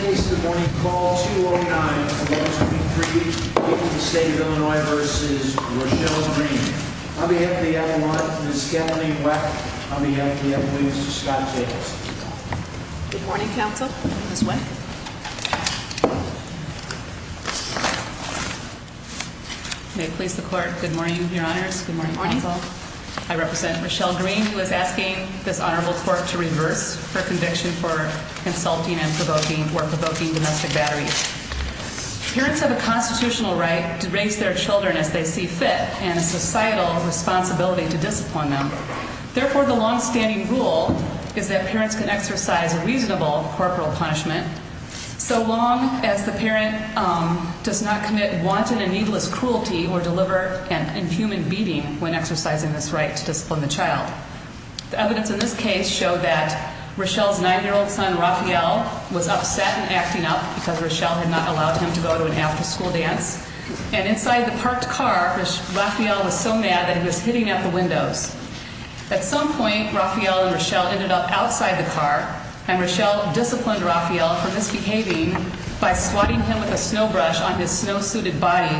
On behalf of the F1, Ms. Kelli Weck. On behalf of the F1, Mr. Scott Jacobson. Good morning, counsel. This way. May it please the court. Good morning, your honors. Good morning, counsel. I represent Michelle Green, who is asking this honorable court to reverse her conviction for insulting and provoking or provoking domestic battery. Parents have a constitutional right to raise their children as they see fit and a societal responsibility to discipline them. The evidence in this case shows that Michelle's 9-year-old son, Rafael, was upset and acting up because Michelle had not allowed him to go to an after-school dance, and inside the parked car, Rafael was so mad that he was hitting at the windows. At some point, Rafael and Michelle ended up outside the car, and Michelle disciplined Rafael for misbehaving by swatting him with a snowbrush on his snow-suited body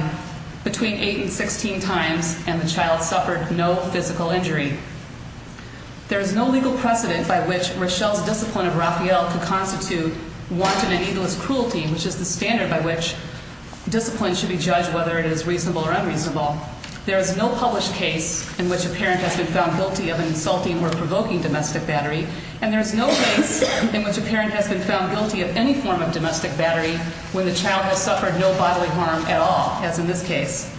between 8 and 16 times, and the child suffered no physical injury. There is no legal precedent by which Michelle's discipline of Rafael could constitute wanton and egalist cruelty, which is the standard by which discipline should be judged whether it is reasonable or unreasonable. There is no published case in which a parent has been found guilty of insulting or provoking domestic battery, and there is no case in which a parent has been found guilty of any form of domestic battery when the child has suffered no bodily harm at all, as in this case.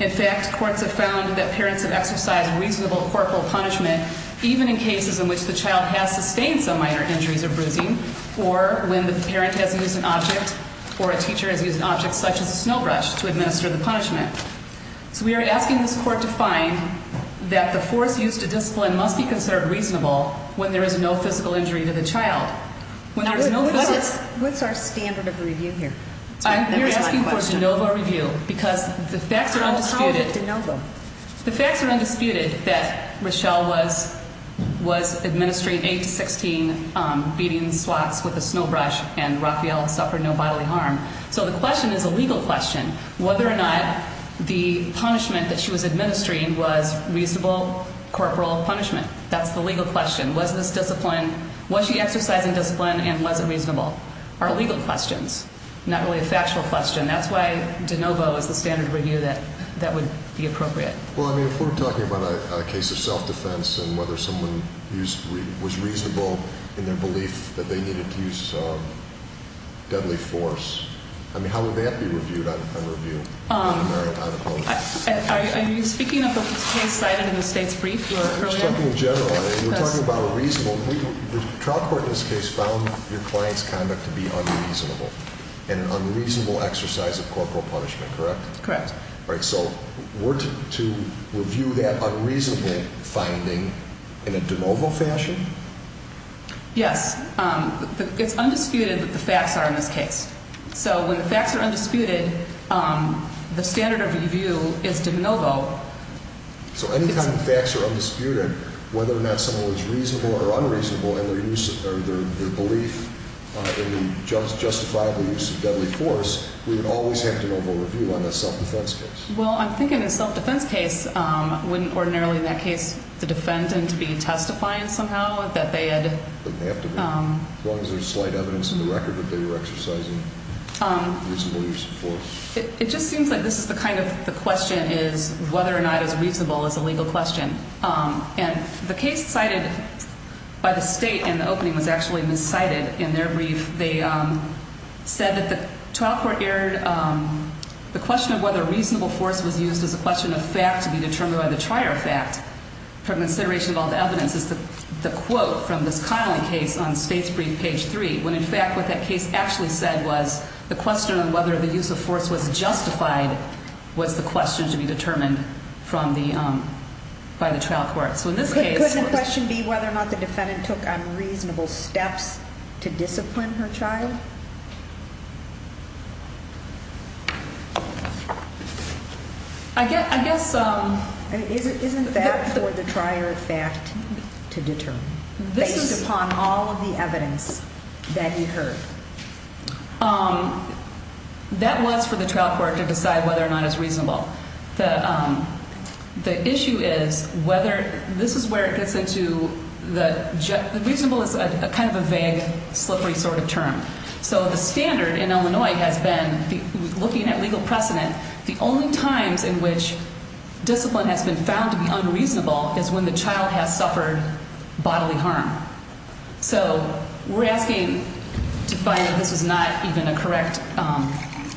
In fact, courts have found that parents have exercised reasonable corporal punishment even in cases in which the child has sustained some minor injuries or bruising, or when the parent has used an object or a teacher has used an object such as a snowbrush to administer the punishment. So we are asking this court to find that the force used to discipline must be considered reasonable when there is no physical injury to the child. What's our standard of review here? We're asking for de novo review because the facts are undisputed. How is it de novo? The facts are undisputed that Michelle was administering 8 to 16 beatings, swats with a snowbrush, and Rafael suffered no bodily harm. So the question is a legal question, whether or not the punishment that she was administering was reasonable corporal punishment. That's the legal question. Was she exercising discipline, and was it reasonable? Are legal questions, not really a factual question. That's why de novo is the standard review that would be appropriate. Well, I mean, if we're talking about a case of self-defense and whether someone was reasonable in their belief that they needed to use deadly force, I mean, how would that be reviewed on review? Are you speaking of a case cited in the state's brief earlier? We're talking in general. We're talking about a reasonable. The trial court in this case found your client's conduct to be unreasonable and an unreasonable exercise of corporal punishment, correct? Correct. All right, so were to review that unreasonable finding in a de novo fashion? Yes. It's undisputed that the facts are in this case. So when the facts are undisputed, the standard of review is de novo. So any kind of facts are undisputed. Whether or not someone was reasonable or unreasonable in their belief in the justifiable use of deadly force, we would always have de novo review on the self-defense case. Well, I'm thinking a self-defense case wouldn't ordinarily in that case the defendant be testifying somehow that they had... They didn't have to be, as long as there's slight evidence in the record that they were exercising reasonable use of force. It just seems like this is the kind of the question is whether or not it's reasonable is a legal question. And the case cited by the state in the opening was actually miscited in their brief. They said that the trial court aired the question of whether reasonable force was used as a question of fact to be determined by the trier of fact. For consideration of all the evidence is the quote from this Connelly case on state's brief, page 3, when in fact what that case actually said was the question on whether the use of force was justified was the question to be determined by the trial court. So in this case... Couldn't the question be whether or not the defendant took unreasonable steps to discipline her child? I guess... That was for the trial court to decide whether or not it's reasonable. The issue is whether this is where it gets into the reasonable is kind of a vague, slippery sort of term. So the standard in Illinois has been looking at legal precedent. The only times in which discipline has been found to be unreasonable is when the child has suffered bodily harm. So we're asking to find that this is not even a correct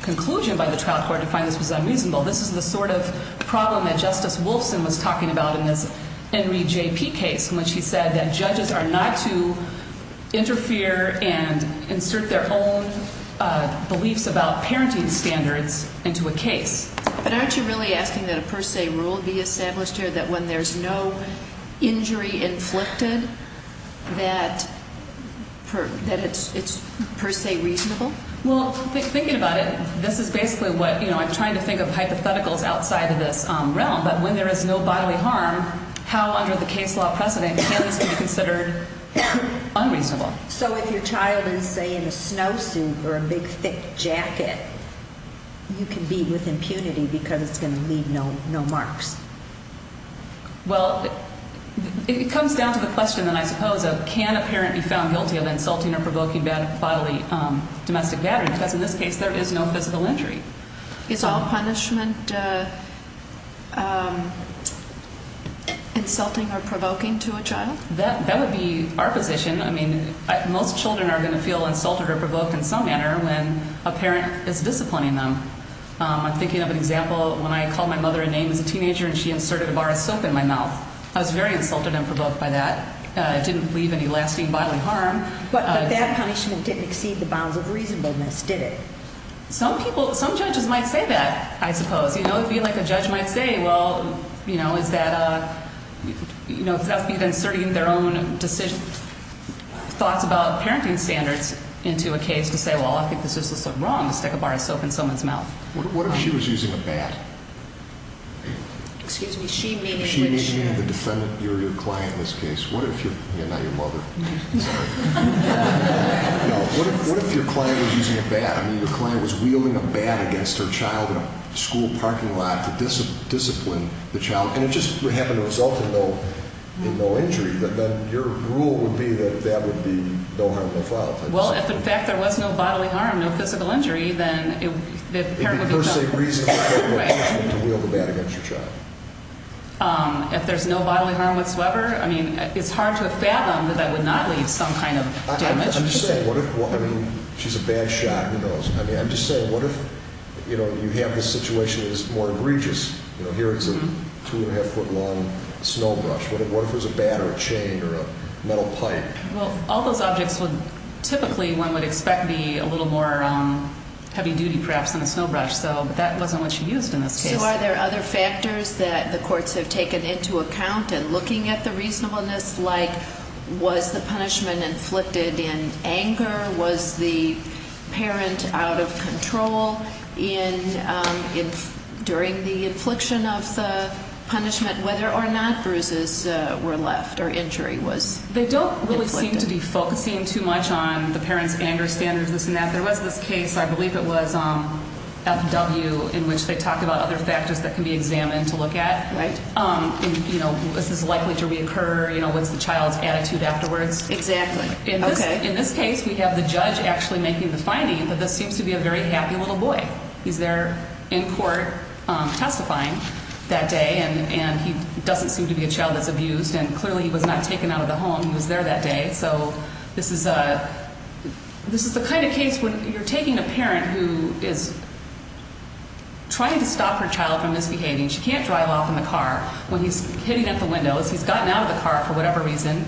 conclusion by the trial court to find this was unreasonable. This is the sort of problem that Justice Wolfson was talking about in this Henry J.P. case in which he said that judges are not to interfere and insert their own beliefs about parenting standards into a case. But aren't you really asking that a per se rule be established here that when there's no injury inflicted that it's per se reasonable? Well, thinking about it, this is basically what, you know, I'm trying to think of hypotheticals outside of this realm. But when there is no bodily harm, how under the case law precedent can this be considered unreasonable? So if your child is, say, in a snowsuit or a big, thick jacket, you can be with impunity because it's going to leave no marks. Well, it comes down to the question then, I suppose, of can a parent be found guilty of insulting or provoking bodily domestic battery? Because in this case there is no physical injury. Is all punishment insulting or provoking to a child? That would be our position. I mean, most children are going to feel insulted or provoked in some manner when a parent is disciplining them. I'm thinking of an example when I called my mother a name as a teenager and she inserted a bar of soap in my mouth. I was very insulted and provoked by that. It didn't leave any lasting bodily harm. But that punishment didn't exceed the bounds of reasonableness, did it? Some people, some judges might say that, I suppose. You know, it would be like a judge might say, well, you know, is that a, you know, that would be inserting their own thoughts about parenting standards into a case to say, well, I think this is just wrong to stick a bar of soap in someone's mouth. What if she was using a bat? Excuse me? She meaning which? She meaning the defendant, your client in this case. What if your, yeah, not your mother. Sorry. No, what if your client was using a bat? I mean, your client was wielding a bat against her child in a school parking lot to discipline the child. And it just happened to result in no injury. But then your rule would be that that would be no harm, no fault. Well, if, in fact, there was no bodily harm, no physical injury, then the parent would be held. It would be per se reasonable to wield a bat against your child. If there's no bodily harm whatsoever, I mean, it's hard to fathom that I would not leave some kind of damage. I'm just saying, what if, I mean, she's a bat shot, who knows? I mean, I'm just saying, what if, you know, you have a situation that's more egregious? You know, here is a two-and-a-half-foot-long snow brush. What if it was a bat or a chain or a metal pipe? Well, all those objects would typically, one would expect, be a little more heavy-duty, perhaps, than a snow brush. So that wasn't what she used in this case. So are there other factors that the courts have taken into account in looking at the reasonableness? Like, was the punishment inflicted in anger? Was the parent out of control during the infliction of the punishment, whether or not bruises were left or injury was inflicted? They don't really seem to be focusing too much on the parent's anger standards, this and that. There was this case, I believe it was FW, in which they talked about other factors that can be examined to look at. Right. You know, is this likely to reoccur? You know, what's the child's attitude afterwards? Exactly. Okay. In this case, we have the judge actually making the finding that this seems to be a very happy little boy. He's there in court testifying that day, and he doesn't seem to be a child that's abused. And clearly, he was not taken out of the home. He was there that day. So this is the kind of case when you're taking a parent who is trying to stop her child from misbehaving. She can't drive off in the car when he's hitting at the windows. He's gotten out of the car for whatever reason.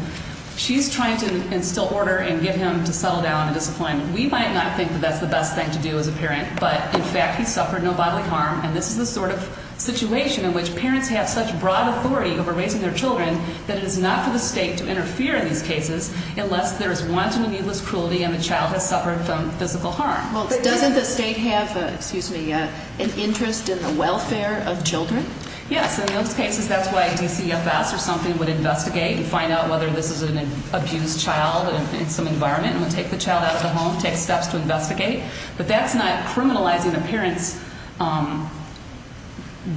She's trying to instill order and get him to settle down and discipline. We might not think that that's the best thing to do as a parent, but in fact, he suffered no bodily harm, and this is the sort of situation in which parents have such broad authority over raising their children that it is not for the state to interfere in these cases unless there is wanton or needless cruelty and the child has suffered physical harm. Well, doesn't the state have an interest in the welfare of children? Yes. In those cases, that's why DCFS or something would investigate and find out whether this is an abused child in some environment and would take the child out of the home, take steps to investigate. But that's not criminalizing a parent's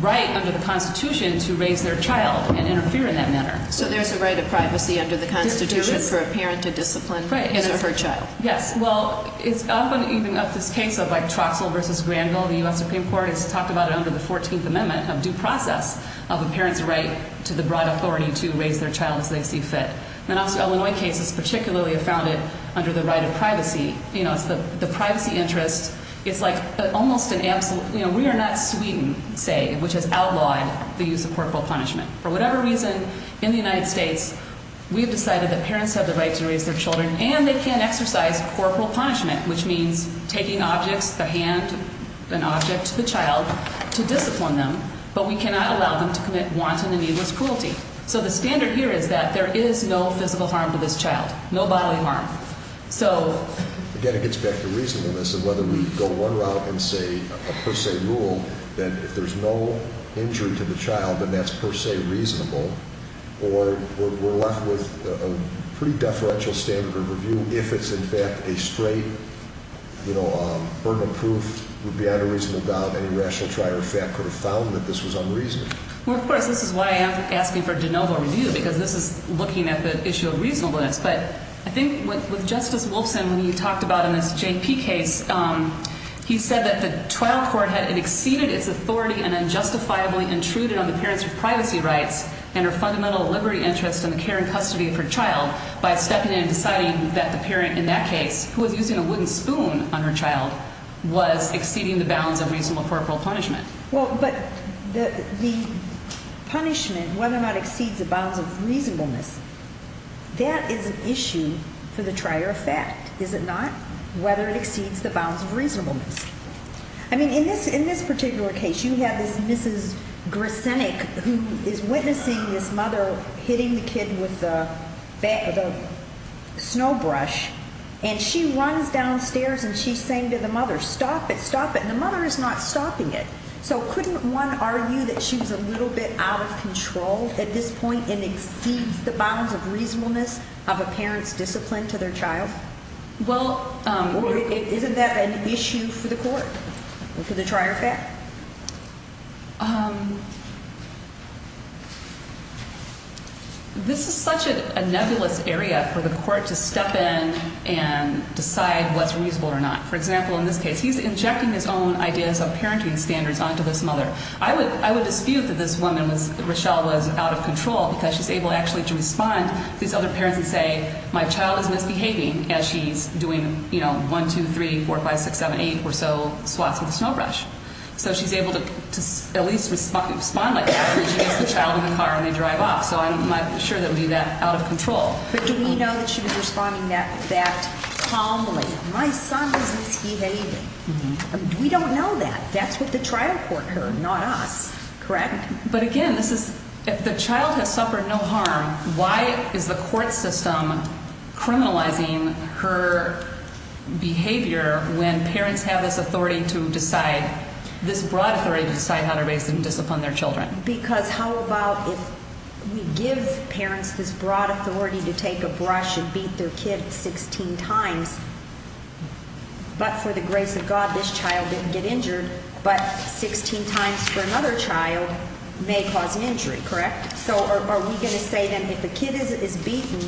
right under the Constitution to raise their child and interfere in that manner. So there's a right of privacy under the Constitution for a parent to discipline his or her child. Right. Yes. Well, it's often even up this case of like Troxell v. Granville. The U.S. Supreme Court has talked about it under the 14th Amendment of due process of a parent's right to the broad authority to raise their child as they see fit. And also Illinois cases particularly have found it under the right of privacy. You know, it's the privacy interest. It's like almost an absolute, you know, we are not Sweden, say, which has outlawed the use of corporal punishment. For whatever reason, in the United States, we have decided that parents have the right to raise their children and they can exercise corporal punishment, which means taking objects, the hand, an object to the child to discipline them, but we cannot allow them to commit wanton and needless cruelty. So the standard here is that there is no physical harm to this child, no bodily harm. So... Again, it gets back to reasonableness and whether we go one route and say a per se rule, that if there's no injury to the child, then that's per se reasonable, or we're left with a pretty deferential standard of review if it's in fact a straight, you know, burden of proof would be on a reasonable doubt. Any rational try or fact could have found that this was unreasonable. Well, of course, this is why I am asking for de novo review, because this is looking at the issue of reasonableness. But I think with Justice Wolfson, when he talked about in this JP case, he said that the trial court had exceeded its authority and unjustifiably intruded on the parent's privacy rights and her fundamental liberty interest in the care and custody of her child by stepping in and deciding that the parent in that case, who was using a wooden spoon on her child, was exceeding the bounds of reasonable corporal punishment. Well, but the punishment, whether or not it exceeds the bounds of reasonableness, that is an issue for the try or fact, is it not? Whether it exceeds the bounds of reasonableness. I mean, in this particular case, you have this Mrs. Grisenik, who is witnessing this mother hitting the kid with the snowbrush, and she runs downstairs and she's saying to the mother, stop it, stop it. And the mother is not stopping it. So couldn't one argue that she was a little bit out of control at this point and exceeds the bounds of reasonableness of a parent's discipline to their child? Well... Or isn't that an issue for the court, for the try or fact? This is such a nebulous area for the court to step in and decide what's reasonable or not. For example, in this case, he's injecting his own ideas of parenting standards onto this mother. I would dispute that this woman, Rochelle, was out of control because she's able actually to respond to these other parents and say, my child is misbehaving as she's doing, you know, 1, 2, 3, 4, 5, 6, 7, 8 or so swats with a snowbrush. So she's able to at least respond like that when she gets the child in the car and they drive off. So I'm not sure that would be that out of control. But do we know that she was responding that calmly? My son is misbehaving. We don't know that. That's what the trial court heard, not us. Correct? But again, if the child has suffered no harm, why is the court system criminalizing her behavior when parents have this authority to decide, this broad authority to decide how to discipline their children? Because how about if we give parents this broad authority to take a brush and beat their kid 16 times, but for the grace of God, this child didn't get injured, but 16 times for another child may cause an injury, correct? So are we going to say then if a kid is beaten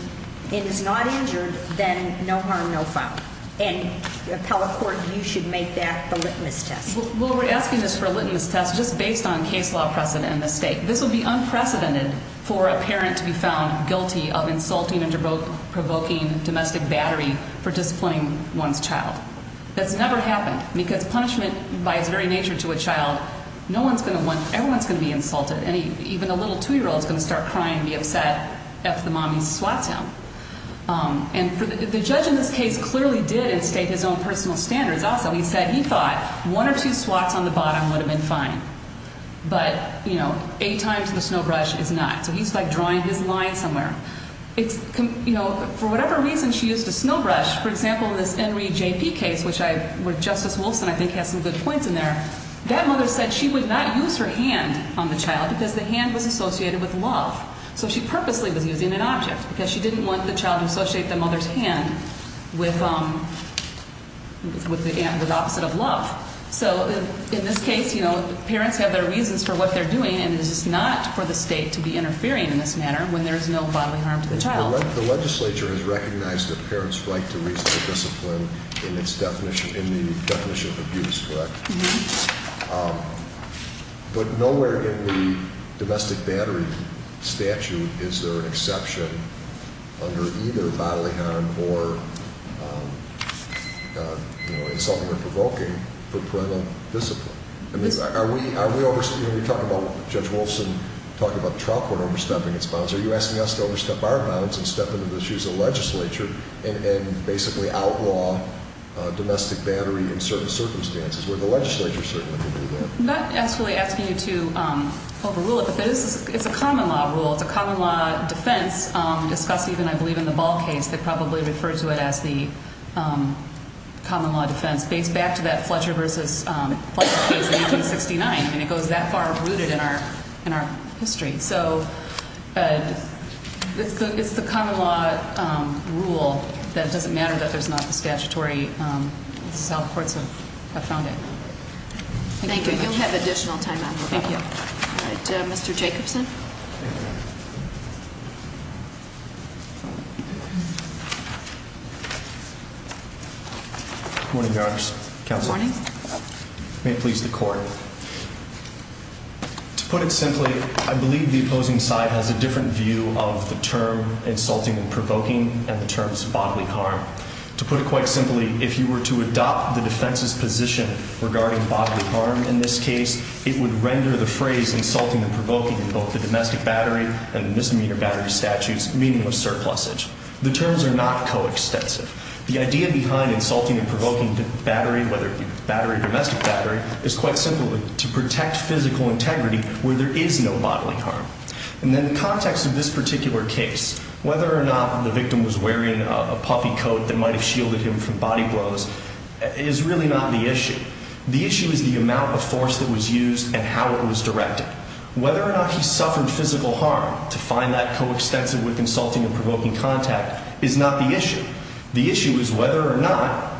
and is not injured, then no harm, no foul? And appellate court, you should make that the litmus test. Well, we're asking this for a litmus test just based on case law precedent in this state. This would be unprecedented for a parent to be found guilty of insulting and provoking domestic battery for disciplining one's child. That's never happened because punishment by its very nature to a child, no one's going to want, everyone's going to be insulted. Even a little 2-year-old is going to start crying and be upset if the mommy swats him. And the judge in this case clearly did instate his own personal standards also. He said he thought one or two swats on the bottom would have been fine. But, you know, eight times in the snow brush is not. So he's, like, drawing his line somewhere. You know, for whatever reason she used a snow brush. For example, in this Henry J.P. case, which Justice Wilson, I think, has some good points in there, that mother said she would not use her hand on the child because the hand was associated with love. So she purposely was using an object because she didn't want the child to associate the mother's hand with the opposite of love. So in this case, you know, parents have their reasons for what they're doing, and it is not for the state to be interfering in this matter when there is no bodily harm to the child. The legislature has recognized a parent's right to reasonable discipline in the definition of abuse, correct? Mm-hmm. But nowhere in the domestic battery statute is there an exception under either bodily harm or, you know, assaulting or provoking for parental discipline. I mean, are we overstepping? You know, Judge Wilson talked about the trial court overstepping its bounds. Are you asking us to overstep our bounds and step into the shoes of the legislature and basically outlaw domestic battery in certain circumstances, where the legislature certainly can do that? I'm not actually asking you to overrule it, but it's a common law rule. It's discussed even, I believe, in the Ball case. They probably refer to it as the common law defense. It dates back to that Fletcher v. Fletcher case in 1869. I mean, it goes that far rooted in our history. So it's the common law rule that it doesn't matter that there's not the statutory self-courts have found it. Thank you. You'll have additional time. Thank you. All right. Mr. Jacobson. Good morning, Your Honors. Good morning. May it please the Court. To put it simply, I believe the opposing side has a different view of the term insulting and provoking and the terms bodily harm. To put it quite simply, if you were to adopt the defense's position regarding bodily harm in this case, it would render the phrase insulting and provoking in both the domestic battery and the misdemeanor battery statutes meaning of surplusage. The terms are not coextensive. The idea behind insulting and provoking the battery, whether it be battery or domestic battery, is quite simply to protect physical integrity where there is no bodily harm. And then the context of this particular case, whether or not the victim was wearing a puffy coat that might have shielded him from body blows, is really not the issue. The issue is the amount of force that was used and how it was directed. Whether or not he suffered physical harm, to find that coextensive with insulting and provoking contact, is not the issue. The issue is whether or not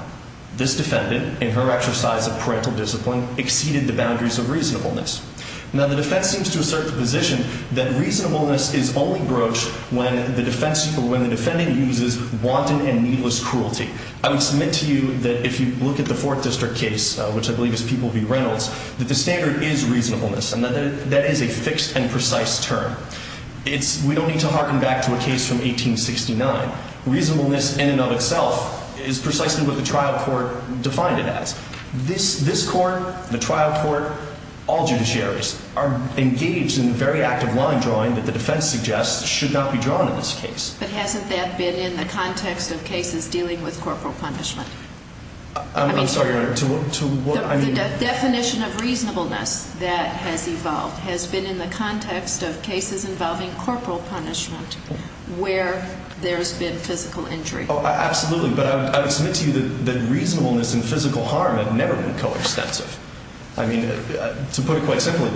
this defendant, in her exercise of parental discipline, exceeded the boundaries of reasonableness. Now, the defense seems to assert the position that reasonableness is only broached when the defendant uses wanton and needless cruelty. I would submit to you that if you look at the Fourth District case, which I believe is People v. Reynolds, that the standard is reasonableness and that that is a fixed and precise term. We don't need to harken back to a case from 1869. Reasonableness in and of itself is precisely what the trial court defined it as. This court, the trial court, all judiciaries are engaged in very active line drawing that the defense suggests should not be drawn in this case. But hasn't that been in the context of cases dealing with corporal punishment? I'm sorry, Your Honor. The definition of reasonableness that has evolved has been in the context of cases involving corporal punishment where there has been physical injury. Absolutely. But I would submit to you that reasonableness and physical harm have never been coextensive. I mean, to put it quite simply,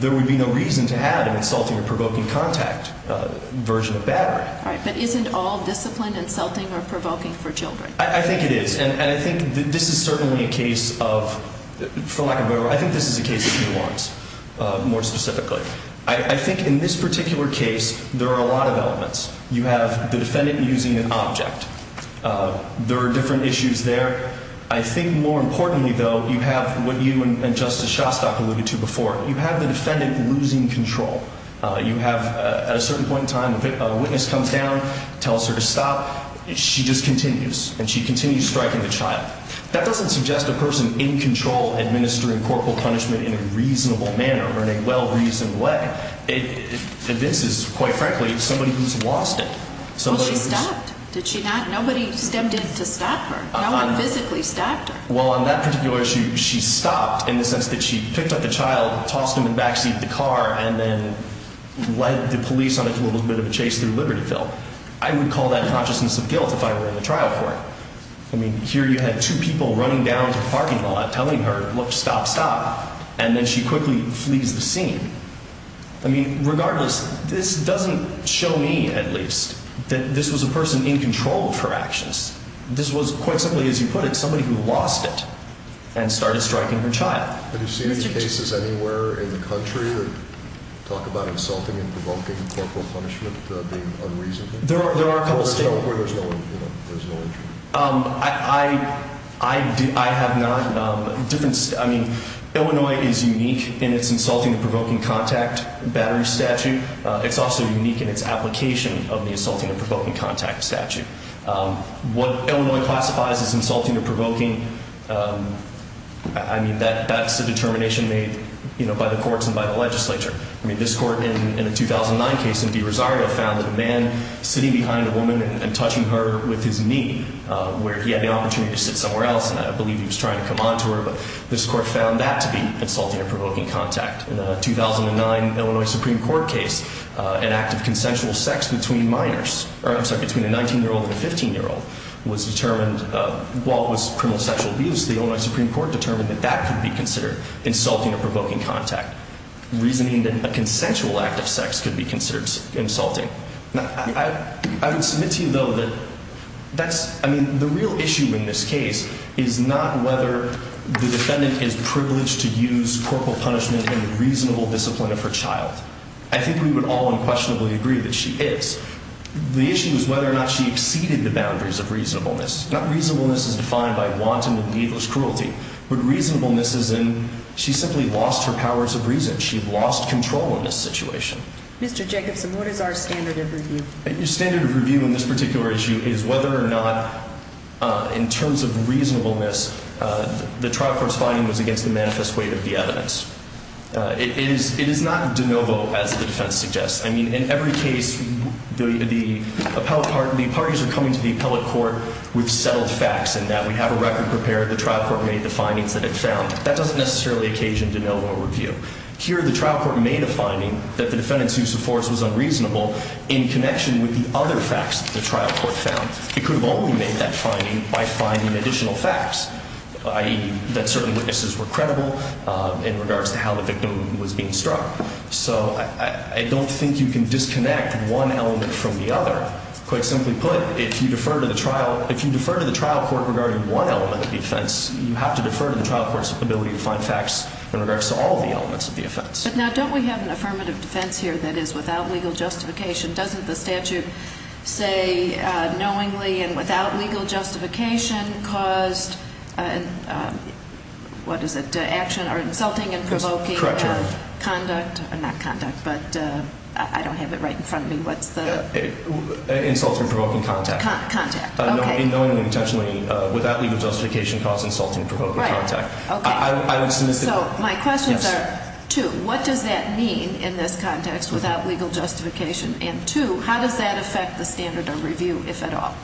there would be no reason to have an insulting or provoking contact version of battery. Right. But isn't all discipline insulting or provoking for children? I think it is. And I think this is certainly a case of, for lack of a better word, I think this is a case of nuance more specifically. I think in this particular case there are a lot of elements. You have the defendant using an object. There are different issues there. I think more importantly, though, you have what you and Justice Shostak alluded to before. You have the defendant losing control. You have, at a certain point in time, a witness comes down, tells her to stop. She just continues, and she continues striking the child. That doesn't suggest a person in control administering corporal punishment in a reasonable manner or in a well-reasoned way. This is, quite frankly, somebody who's lost it. Well, she stopped. Did she not? Nobody stepped in to stop her. No one physically stopped her. Well, on that particular issue, she stopped in the sense that she picked up the child, tossed him in the backseat of the car, and then led the police on a little bit of a chase through Libertyville. I would call that consciousness of guilt if I were in the trial court. I mean, here you had two people running down to the parking lot telling her, look, stop, stop. And then she quickly flees the scene. I mean, regardless, this doesn't show me, at least, that this was a person in control of her actions. This was, quite simply, as you put it, somebody who lost it and started striking her child. Have you seen any cases anywhere in the country that talk about insulting and provoking corporal punishment being unreasonable? There are a couple states. There's no injury? I have not. I mean, Illinois is unique in its insulting and provoking contact battery statute. It's also unique in its application of the insulting and provoking contact statute. What Illinois classifies as insulting or provoking, I mean, that's a determination made by the courts and by the legislature. I mean, this court in a 2009 case in DeRosario found that a man sitting behind a woman and touching her with his knee, where he had the opportunity to sit somewhere else, and I believe he was trying to come on to her, but this court found that to be insulting or provoking contact. In a 2009 Illinois Supreme Court case, an act of consensual sex between minors, or I'm sorry, between a 19-year-old and a 15-year-old was determined, while it was criminal sexual abuse, the Illinois Supreme Court determined that that could be considered insulting or provoking contact, reasoning that a consensual act of sex could be considered insulting. Now, I would submit to you, though, that that's, I mean, the real issue in this case is not whether the defendant is privileged to use corporal punishment in the reasonable discipline of her child. I think we would all unquestionably agree that she is. The issue is whether or not she exceeded the boundaries of reasonableness. Not reasonableness as defined by wanton and needless cruelty, but reasonableness as in she simply lost her powers of reason. She lost control in this situation. Mr. Jacobson, what is our standard of review? Your standard of review in this particular issue is whether or not, in terms of reasonableness, the trial court's finding was against the manifest weight of the evidence. It is not de novo, as the defense suggests. I mean, in every case, the parties are coming to the appellate court with settled facts, and that we have a record prepared, the trial court made the findings that it found. That doesn't necessarily occasion de novo review. Here, the trial court made a finding that the defendant's use of force was unreasonable in connection with the other facts that the trial court found. It could have only made that finding by finding additional facts, i.e. that certain witnesses were credible in regards to how the victim was being struck. So I don't think you can disconnect one element from the other. Quite simply put, if you defer to the trial court regarding one element of the offense, you have to defer to the trial court's ability to find facts in regards to all of the elements of the offense. But now, don't we have an affirmative defense here that is without legal justification? Doesn't the statute say knowingly and without legal justification caused, what is it, action or insulting and provoking? Correct, Your Honor. Conduct? Not conduct, but I don't have it right in front of me. What's the? Insulting and provoking contact. Contact, okay. Knowingly and intentionally, without legal justification, caused insulting and provoking contact. Right, okay. I would submit that. So my questions are, two, what does that mean in this context without legal justification? And two, how does that affect the standard of review, if at all?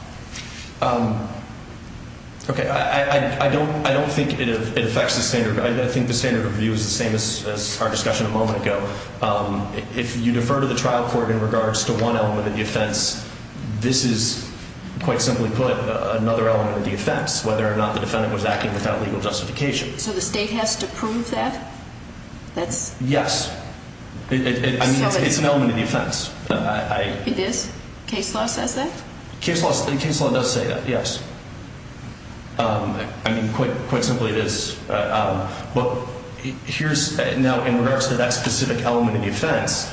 Okay, I don't think it affects the standard. I think the standard of review is the same as our discussion a moment ago. If you defer to the trial court in regards to one element of the offense, this is, quite simply put, another element of the offense, whether or not the defendant was acting without legal justification. So the state has to prove that? Yes. I mean, it's an element of the offense. It is? Case law says that? Case law does say that, yes. I mean, quite simply, it is. But here's, now, in regards to that specific element of the offense,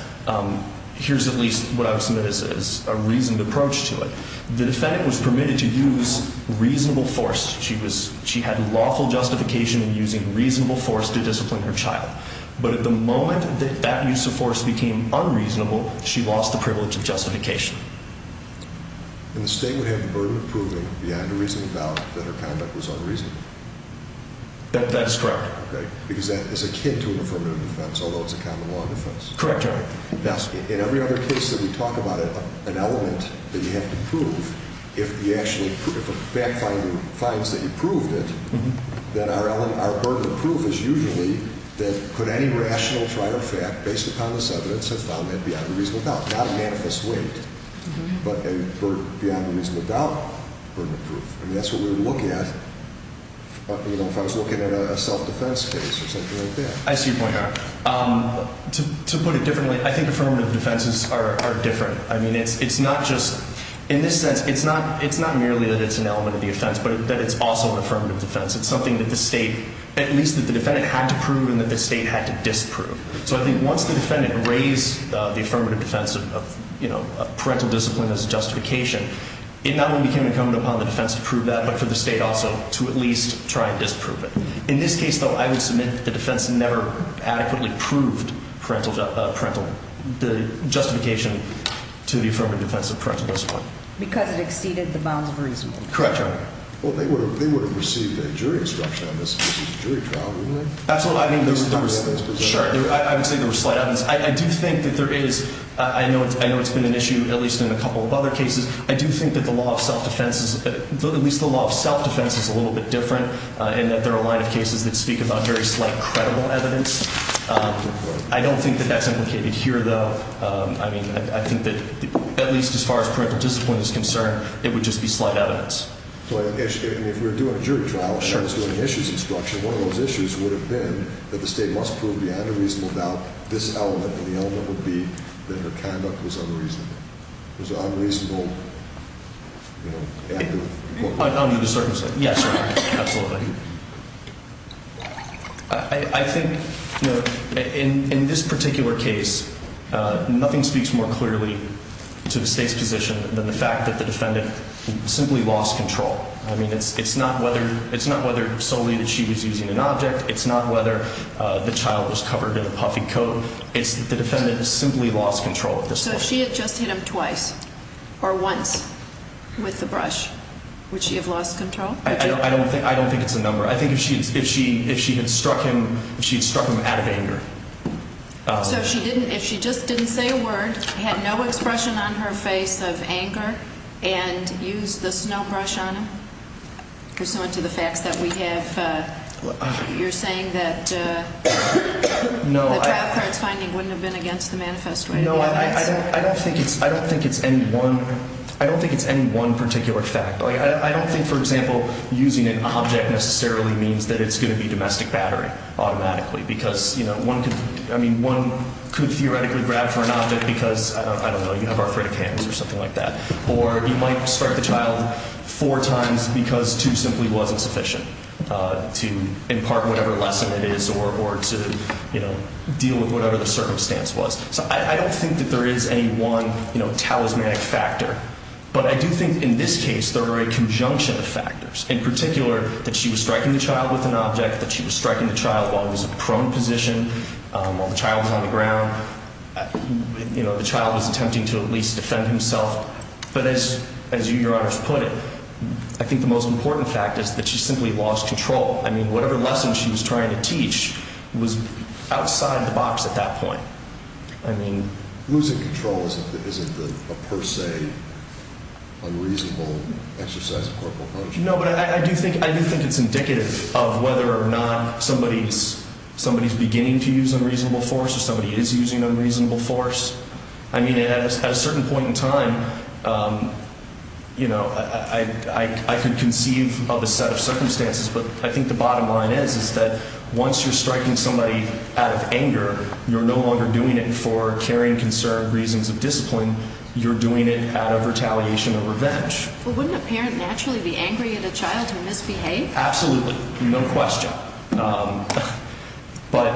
here's at least what I would submit as a reasoned approach to it. The defendant was permitted to use reasonable force. She had lawful justification in using reasonable force to discipline her child. But at the moment that that use of force became unreasonable, she lost the privilege of justification. And the state would have the burden of proving beyond a reasonable doubt that her conduct was unreasonable? That is correct. Okay, because that is akin to an affirmative defense, although it's a common law defense. Correct, Your Honor. Yes. In every other case that we talk about, an element that you have to prove, if a fact finder finds that you proved it, then our burden of proof is usually that could any rational trial or fact based upon this evidence have found that beyond a reasonable doubt? Not a manifest weight, but a burden beyond a reasonable doubt, burden of proof. And that's what we would look at, you know, if I was looking at a self-defense case or something like that. I see your point, Your Honor. To put it differently, I think affirmative defenses are different. I mean, it's not just – in this sense, it's not merely that it's an element of the offense, but that it's also an affirmative defense. It's something that the state – at least that the defendant had to prove and that the state had to disprove. So I think once the defendant raised the affirmative defense of, you know, parental discipline as justification, it not only became incumbent upon the defense to prove that, but for the state also to at least try and disprove it. In this case, though, I would submit that the defense never adequately proved parental – the justification to the affirmative defense of parental discipline. Because it exceeded the bounds of reason. Correct, Your Honor. Well, they would have received a jury instruction on this if this was a jury trial, wouldn't they? Absolutely. I mean, there was – sure. I would say there was slight evidence. I do think that there is – I know it's been an issue at least in a couple of other cases. I do think that the law of self-defense is – at least the law of self-defense is a little bit different in that there are a line of cases that speak about very slight credible evidence. Right. I don't think that that's implicated here, though. I mean, I think that at least as far as parental discipline is concerned, it would just be slight evidence. Well, if we were doing a jury trial and I was doing issues instruction, one of those issues would have been that the state must prove beyond a reasonable doubt this element, and the element would be that her conduct was unreasonable. It was unreasonable, you know. Under the circumstances. Yes, Your Honor. Absolutely. I think, you know, in this particular case, nothing speaks more clearly to the state's position than the fact that the defendant simply lost control. I mean, it's not whether – it's not whether solely that she was using an object. It's not whether the child was covered in a puffy coat. So it's that the defendant simply lost control at this point. So if she had just hit him twice or once with the brush, would she have lost control? I don't think it's a number. I think if she had struck him out of anger. So if she didn't – if she just didn't say a word, had no expression on her face of anger, and used the snow brush on him, pursuant to the facts that we have, you're saying that the trial court's finding wouldn't have been against the manifesto? No, I don't think it's any one – I don't think it's any one particular fact. I don't think, for example, using an object necessarily means that it's going to be domestic battery automatically, because, you know, one could – I mean, one could theoretically grab for an object because, I don't know, you have arthritic hands or something like that. Or you might strike the child four times because two simply wasn't sufficient to impart whatever lesson it is or to, you know, deal with whatever the circumstance was. So I don't think that there is any one, you know, talismanic factor. But I do think in this case there are a conjunction of factors, in particular that she was striking the child with an object, that she was striking the child while he was in a prone position, while the child was on the ground. You know, the child was attempting to at least defend himself. But as you, Your Honor, have put it, I think the most important fact is that she simply lost control. I mean, whatever lesson she was trying to teach was outside the box at that point. I mean – Losing control isn't a per se unreasonable exercise of corporal punishment. No, but I do think it's indicative of whether or not somebody is beginning to use unreasonable force or somebody is using unreasonable force. I mean, at a certain point in time, you know, I could conceive of a set of circumstances, but I think the bottom line is that once you're striking somebody out of anger, you're no longer doing it for caring, concerned reasons of discipline. You're doing it out of retaliation or revenge. Well, wouldn't a parent naturally be angry at a child who misbehaved? Absolutely. No question. But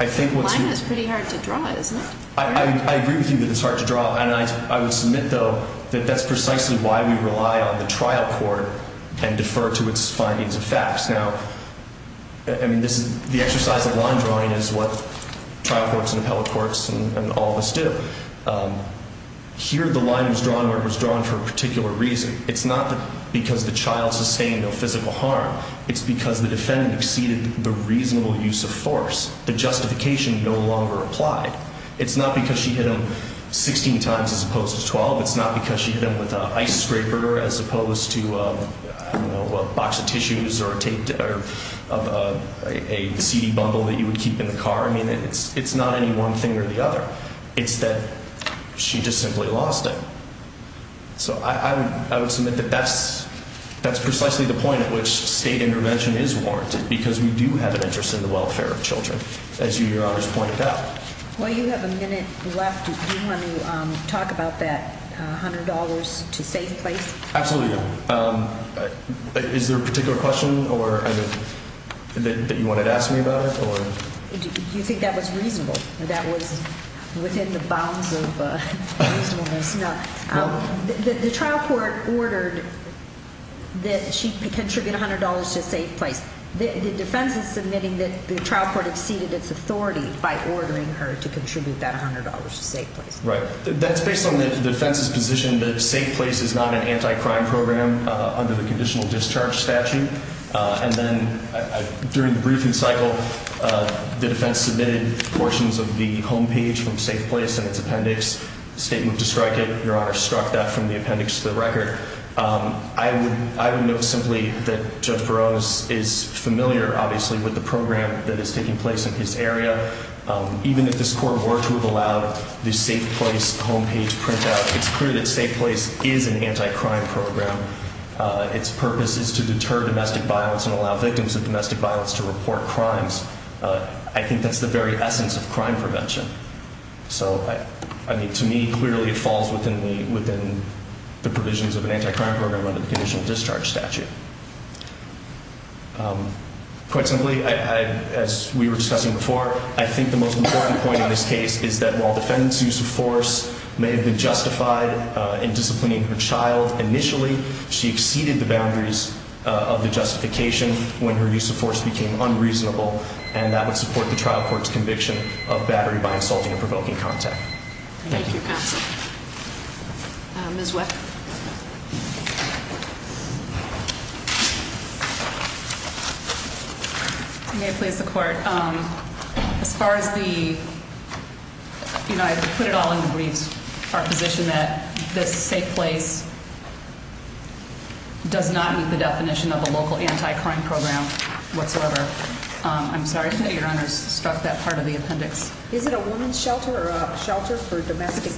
I think what's – The line is pretty hard to draw, isn't it? I agree with you that it's hard to draw. And I would submit, though, that that's precisely why we rely on the trial court and defer to its findings of facts. Now, I mean, this is – the exercise of line drawing is what trial courts and appellate courts and all of us do. Here the line was drawn where it was drawn for a particular reason. It's not because the child sustained no physical harm. It's because the defendant exceeded the reasonable use of force. The justification no longer applied. It's not because she hit him 16 times as opposed to 12. It's not because she hit him with an ice scraper as opposed to, I don't know, a box of tissues or a CD bumble that you would keep in the car. I mean, it's not any one thing or the other. It's that she just simply lost him. So I would submit that that's precisely the point at which state intervention is warranted because we do have an interest in the welfare of children, as you, Your Honors, pointed out. While you have a minute left, do you want to talk about that $100 to save place? Absolutely. Is there a particular question or – that you wanted to ask me about it or – Do you think that was reasonable? That was within the bounds of reasonableness? No. The trial court ordered that she contribute $100 to save place. The defense is submitting that the trial court exceeded its authority by ordering her to contribute that $100 to save place. Right. That's based on the defense's position that save place is not an anti-crime program under the conditional discharge statute. And then during the briefing cycle, the defense submitted portions of the homepage from save place and its appendix. The state moved to strike it. Your Honor struck that from the appendix to the record. I would note simply that Judge Barone is familiar, obviously, with the program that is taking place in his area. Even if this court were to have allowed the save place homepage printout, it's clear that save place is an anti-crime program. Its purpose is to deter domestic violence and allow victims of domestic violence to report crimes. I think that's the very essence of crime prevention. So, I mean, to me, clearly it falls within the provisions of an anti-crime program under the conditional discharge statute. Quite simply, as we were discussing before, I think the most important point in this case is that while defendant's use of force may have been justified in disciplining her child initially, she exceeded the boundaries of the justification when her use of force became unreasonable, and that would support the trial court's conviction of battery by insulting and provoking contact. Thank you. Thank you, counsel. Ms. Weck? May it please the court? As far as the, you know, I put it all in the briefs, our position that this save place does not meet the definition of a local anti-crime program whatsoever. I'm sorry, your Honor, stuck that part of the appendix. Is it a woman's shelter or a shelter for domestic?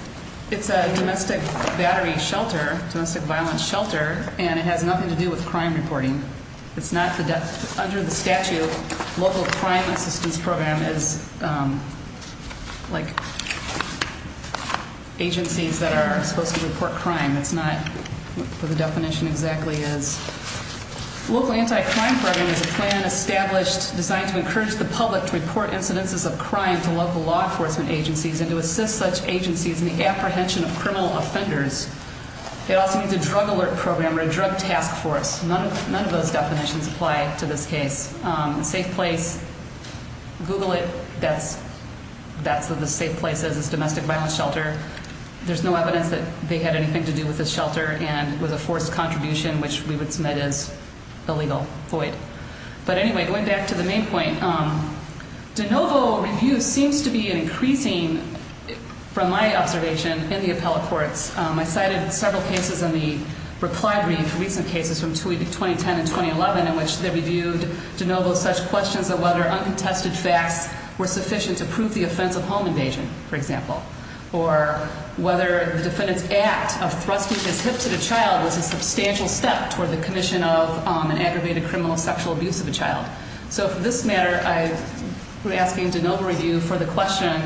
It's a domestic battery shelter, domestic violence shelter, and it has nothing to do with crime reporting. It's not under the statute. Local crime assistance program is like agencies that are supposed to report crime. It's not what the definition exactly is. Local anti-crime program is a plan established, designed to encourage the public to report incidences of crime to local law enforcement agencies and to assist such agencies in the apprehension of criminal offenders. It also needs a drug alert program or a drug task force. None of those definitions apply to this case. Safe place, Google it, that's what the safe place is, is domestic violence shelter. There's no evidence that they had anything to do with this shelter and it was a forced contribution, which we would submit as illegal, void. But anyway, going back to the main point, DeNovo review seems to be increasing, from my observation, in the appellate courts. I cited several cases in the reply brief, recent cases from 2010 and 2011, in which they reviewed DeNovo's such questions of whether uncontested facts were sufficient to prove the offense of home invasion, for example. Or whether the defendant's act of thrusting his hips at a child was a substantial step toward the commission of an aggravated criminal sexual abuse of a child. So for this matter, I'm asking DeNovo review for the question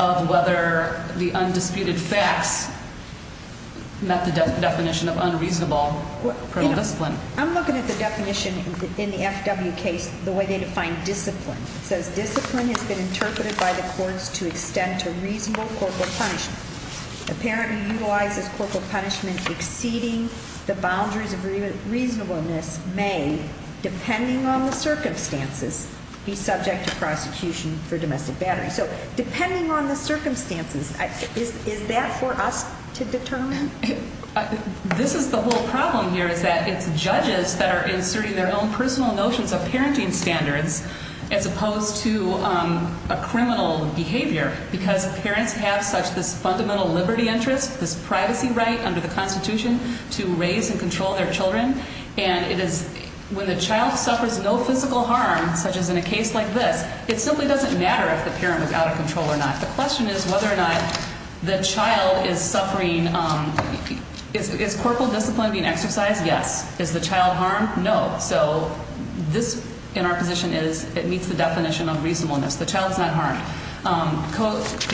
of whether the undisputed facts met the definition of unreasonable criminal discipline. I'm looking at the definition in the FW case, the way they define discipline. It says discipline has been interpreted by the courts to extend to reasonable corporal punishment. The parent who utilizes corporal punishment exceeding the boundaries of reasonableness may, depending on the circumstances, be subject to prosecution for domestic battery. So depending on the circumstances, is that for us to determine? This is the whole problem here, is that it's judges that are inserting their own personal notions of parenting standards, as opposed to a criminal behavior. Because parents have such this fundamental liberty interest, this privacy right under the Constitution, to raise and control their children. And when the child suffers no physical harm, such as in a case like this, it simply doesn't matter if the parent was out of control or not. The question is whether or not the child is suffering. Is corporal discipline being exercised? Yes. Is the child harmed? No. So this, in our position, it meets the definition of reasonableness. The child's not harmed.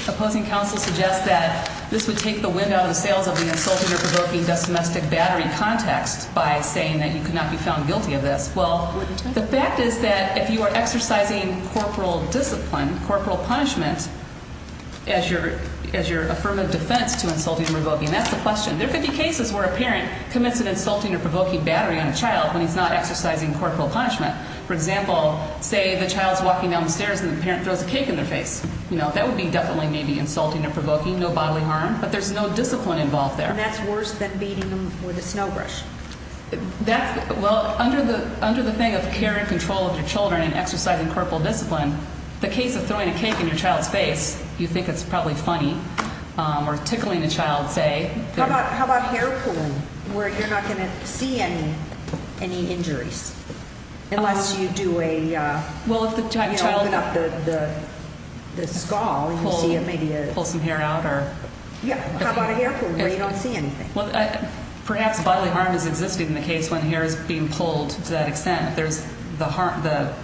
Opposing counsel suggests that this would take the wind out of the sails of the insulting or provoking domestic battery context by saying that you could not be found guilty of this. Well, the fact is that if you are exercising corporal discipline, corporal punishment, as your affirmative defense to insulting or provoking, that's the question. There are 50 cases where a parent commits an insulting or provoking battery on a child when he's not exercising corporal punishment. For example, say the child's walking down the stairs and the parent throws a cake in their face. That would be definitely maybe insulting or provoking, no bodily harm. But there's no discipline involved there. And that's worse than beating them with a snow brush. Well, under the thing of care and control of your children and exercising corporal discipline, the case of throwing a cake in your child's face, you think it's probably funny, or tickling a child, say. How about hair pulling where you're not going to see any injuries unless you do a, you know, open up the skull and you see maybe a- Pull some hair out or- Yeah. How about a hair pull where you don't see anything? Well, perhaps bodily harm is existing in the case when hair is being pulled to that extent. There's the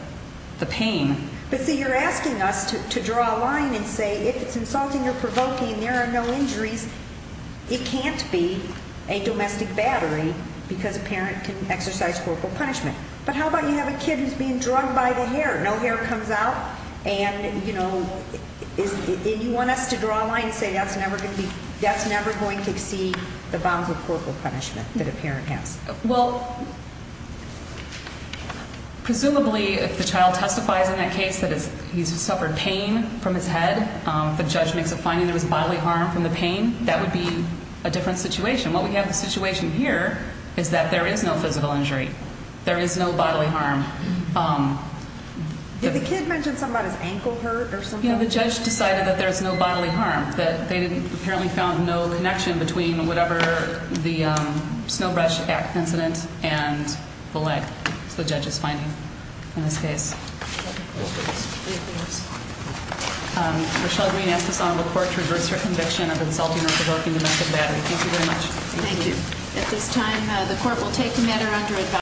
pain. But, see, you're asking us to draw a line and say if it's insulting or provoking, there are no injuries. It can't be a domestic battery because a parent can exercise corporal punishment. But how about you have a kid who's being drugged by the hair? No hair comes out. And, you know, do you want us to draw a line and say that's never going to exceed the bounds of corporal punishment that a parent has? Well, presumably if the child testifies in that case that he's suffered pain from his head, the judge makes a finding there was bodily harm from the pain, that would be a different situation. What we have in the situation here is that there is no physical injury. There is no bodily harm. Did the kid mention something about his ankle hurt or something? Yeah, the judge decided that there's no bodily harm, that they apparently found no connection between whatever the Snowbrush Act incident and the leg. That's what the judge is finding in this case. Rochelle Green asks this Honorable Court to reverse her conviction of insulting or provoking a domestic battery. Thank you very much. Thank you. At this time, the Court will take the matter under advisory.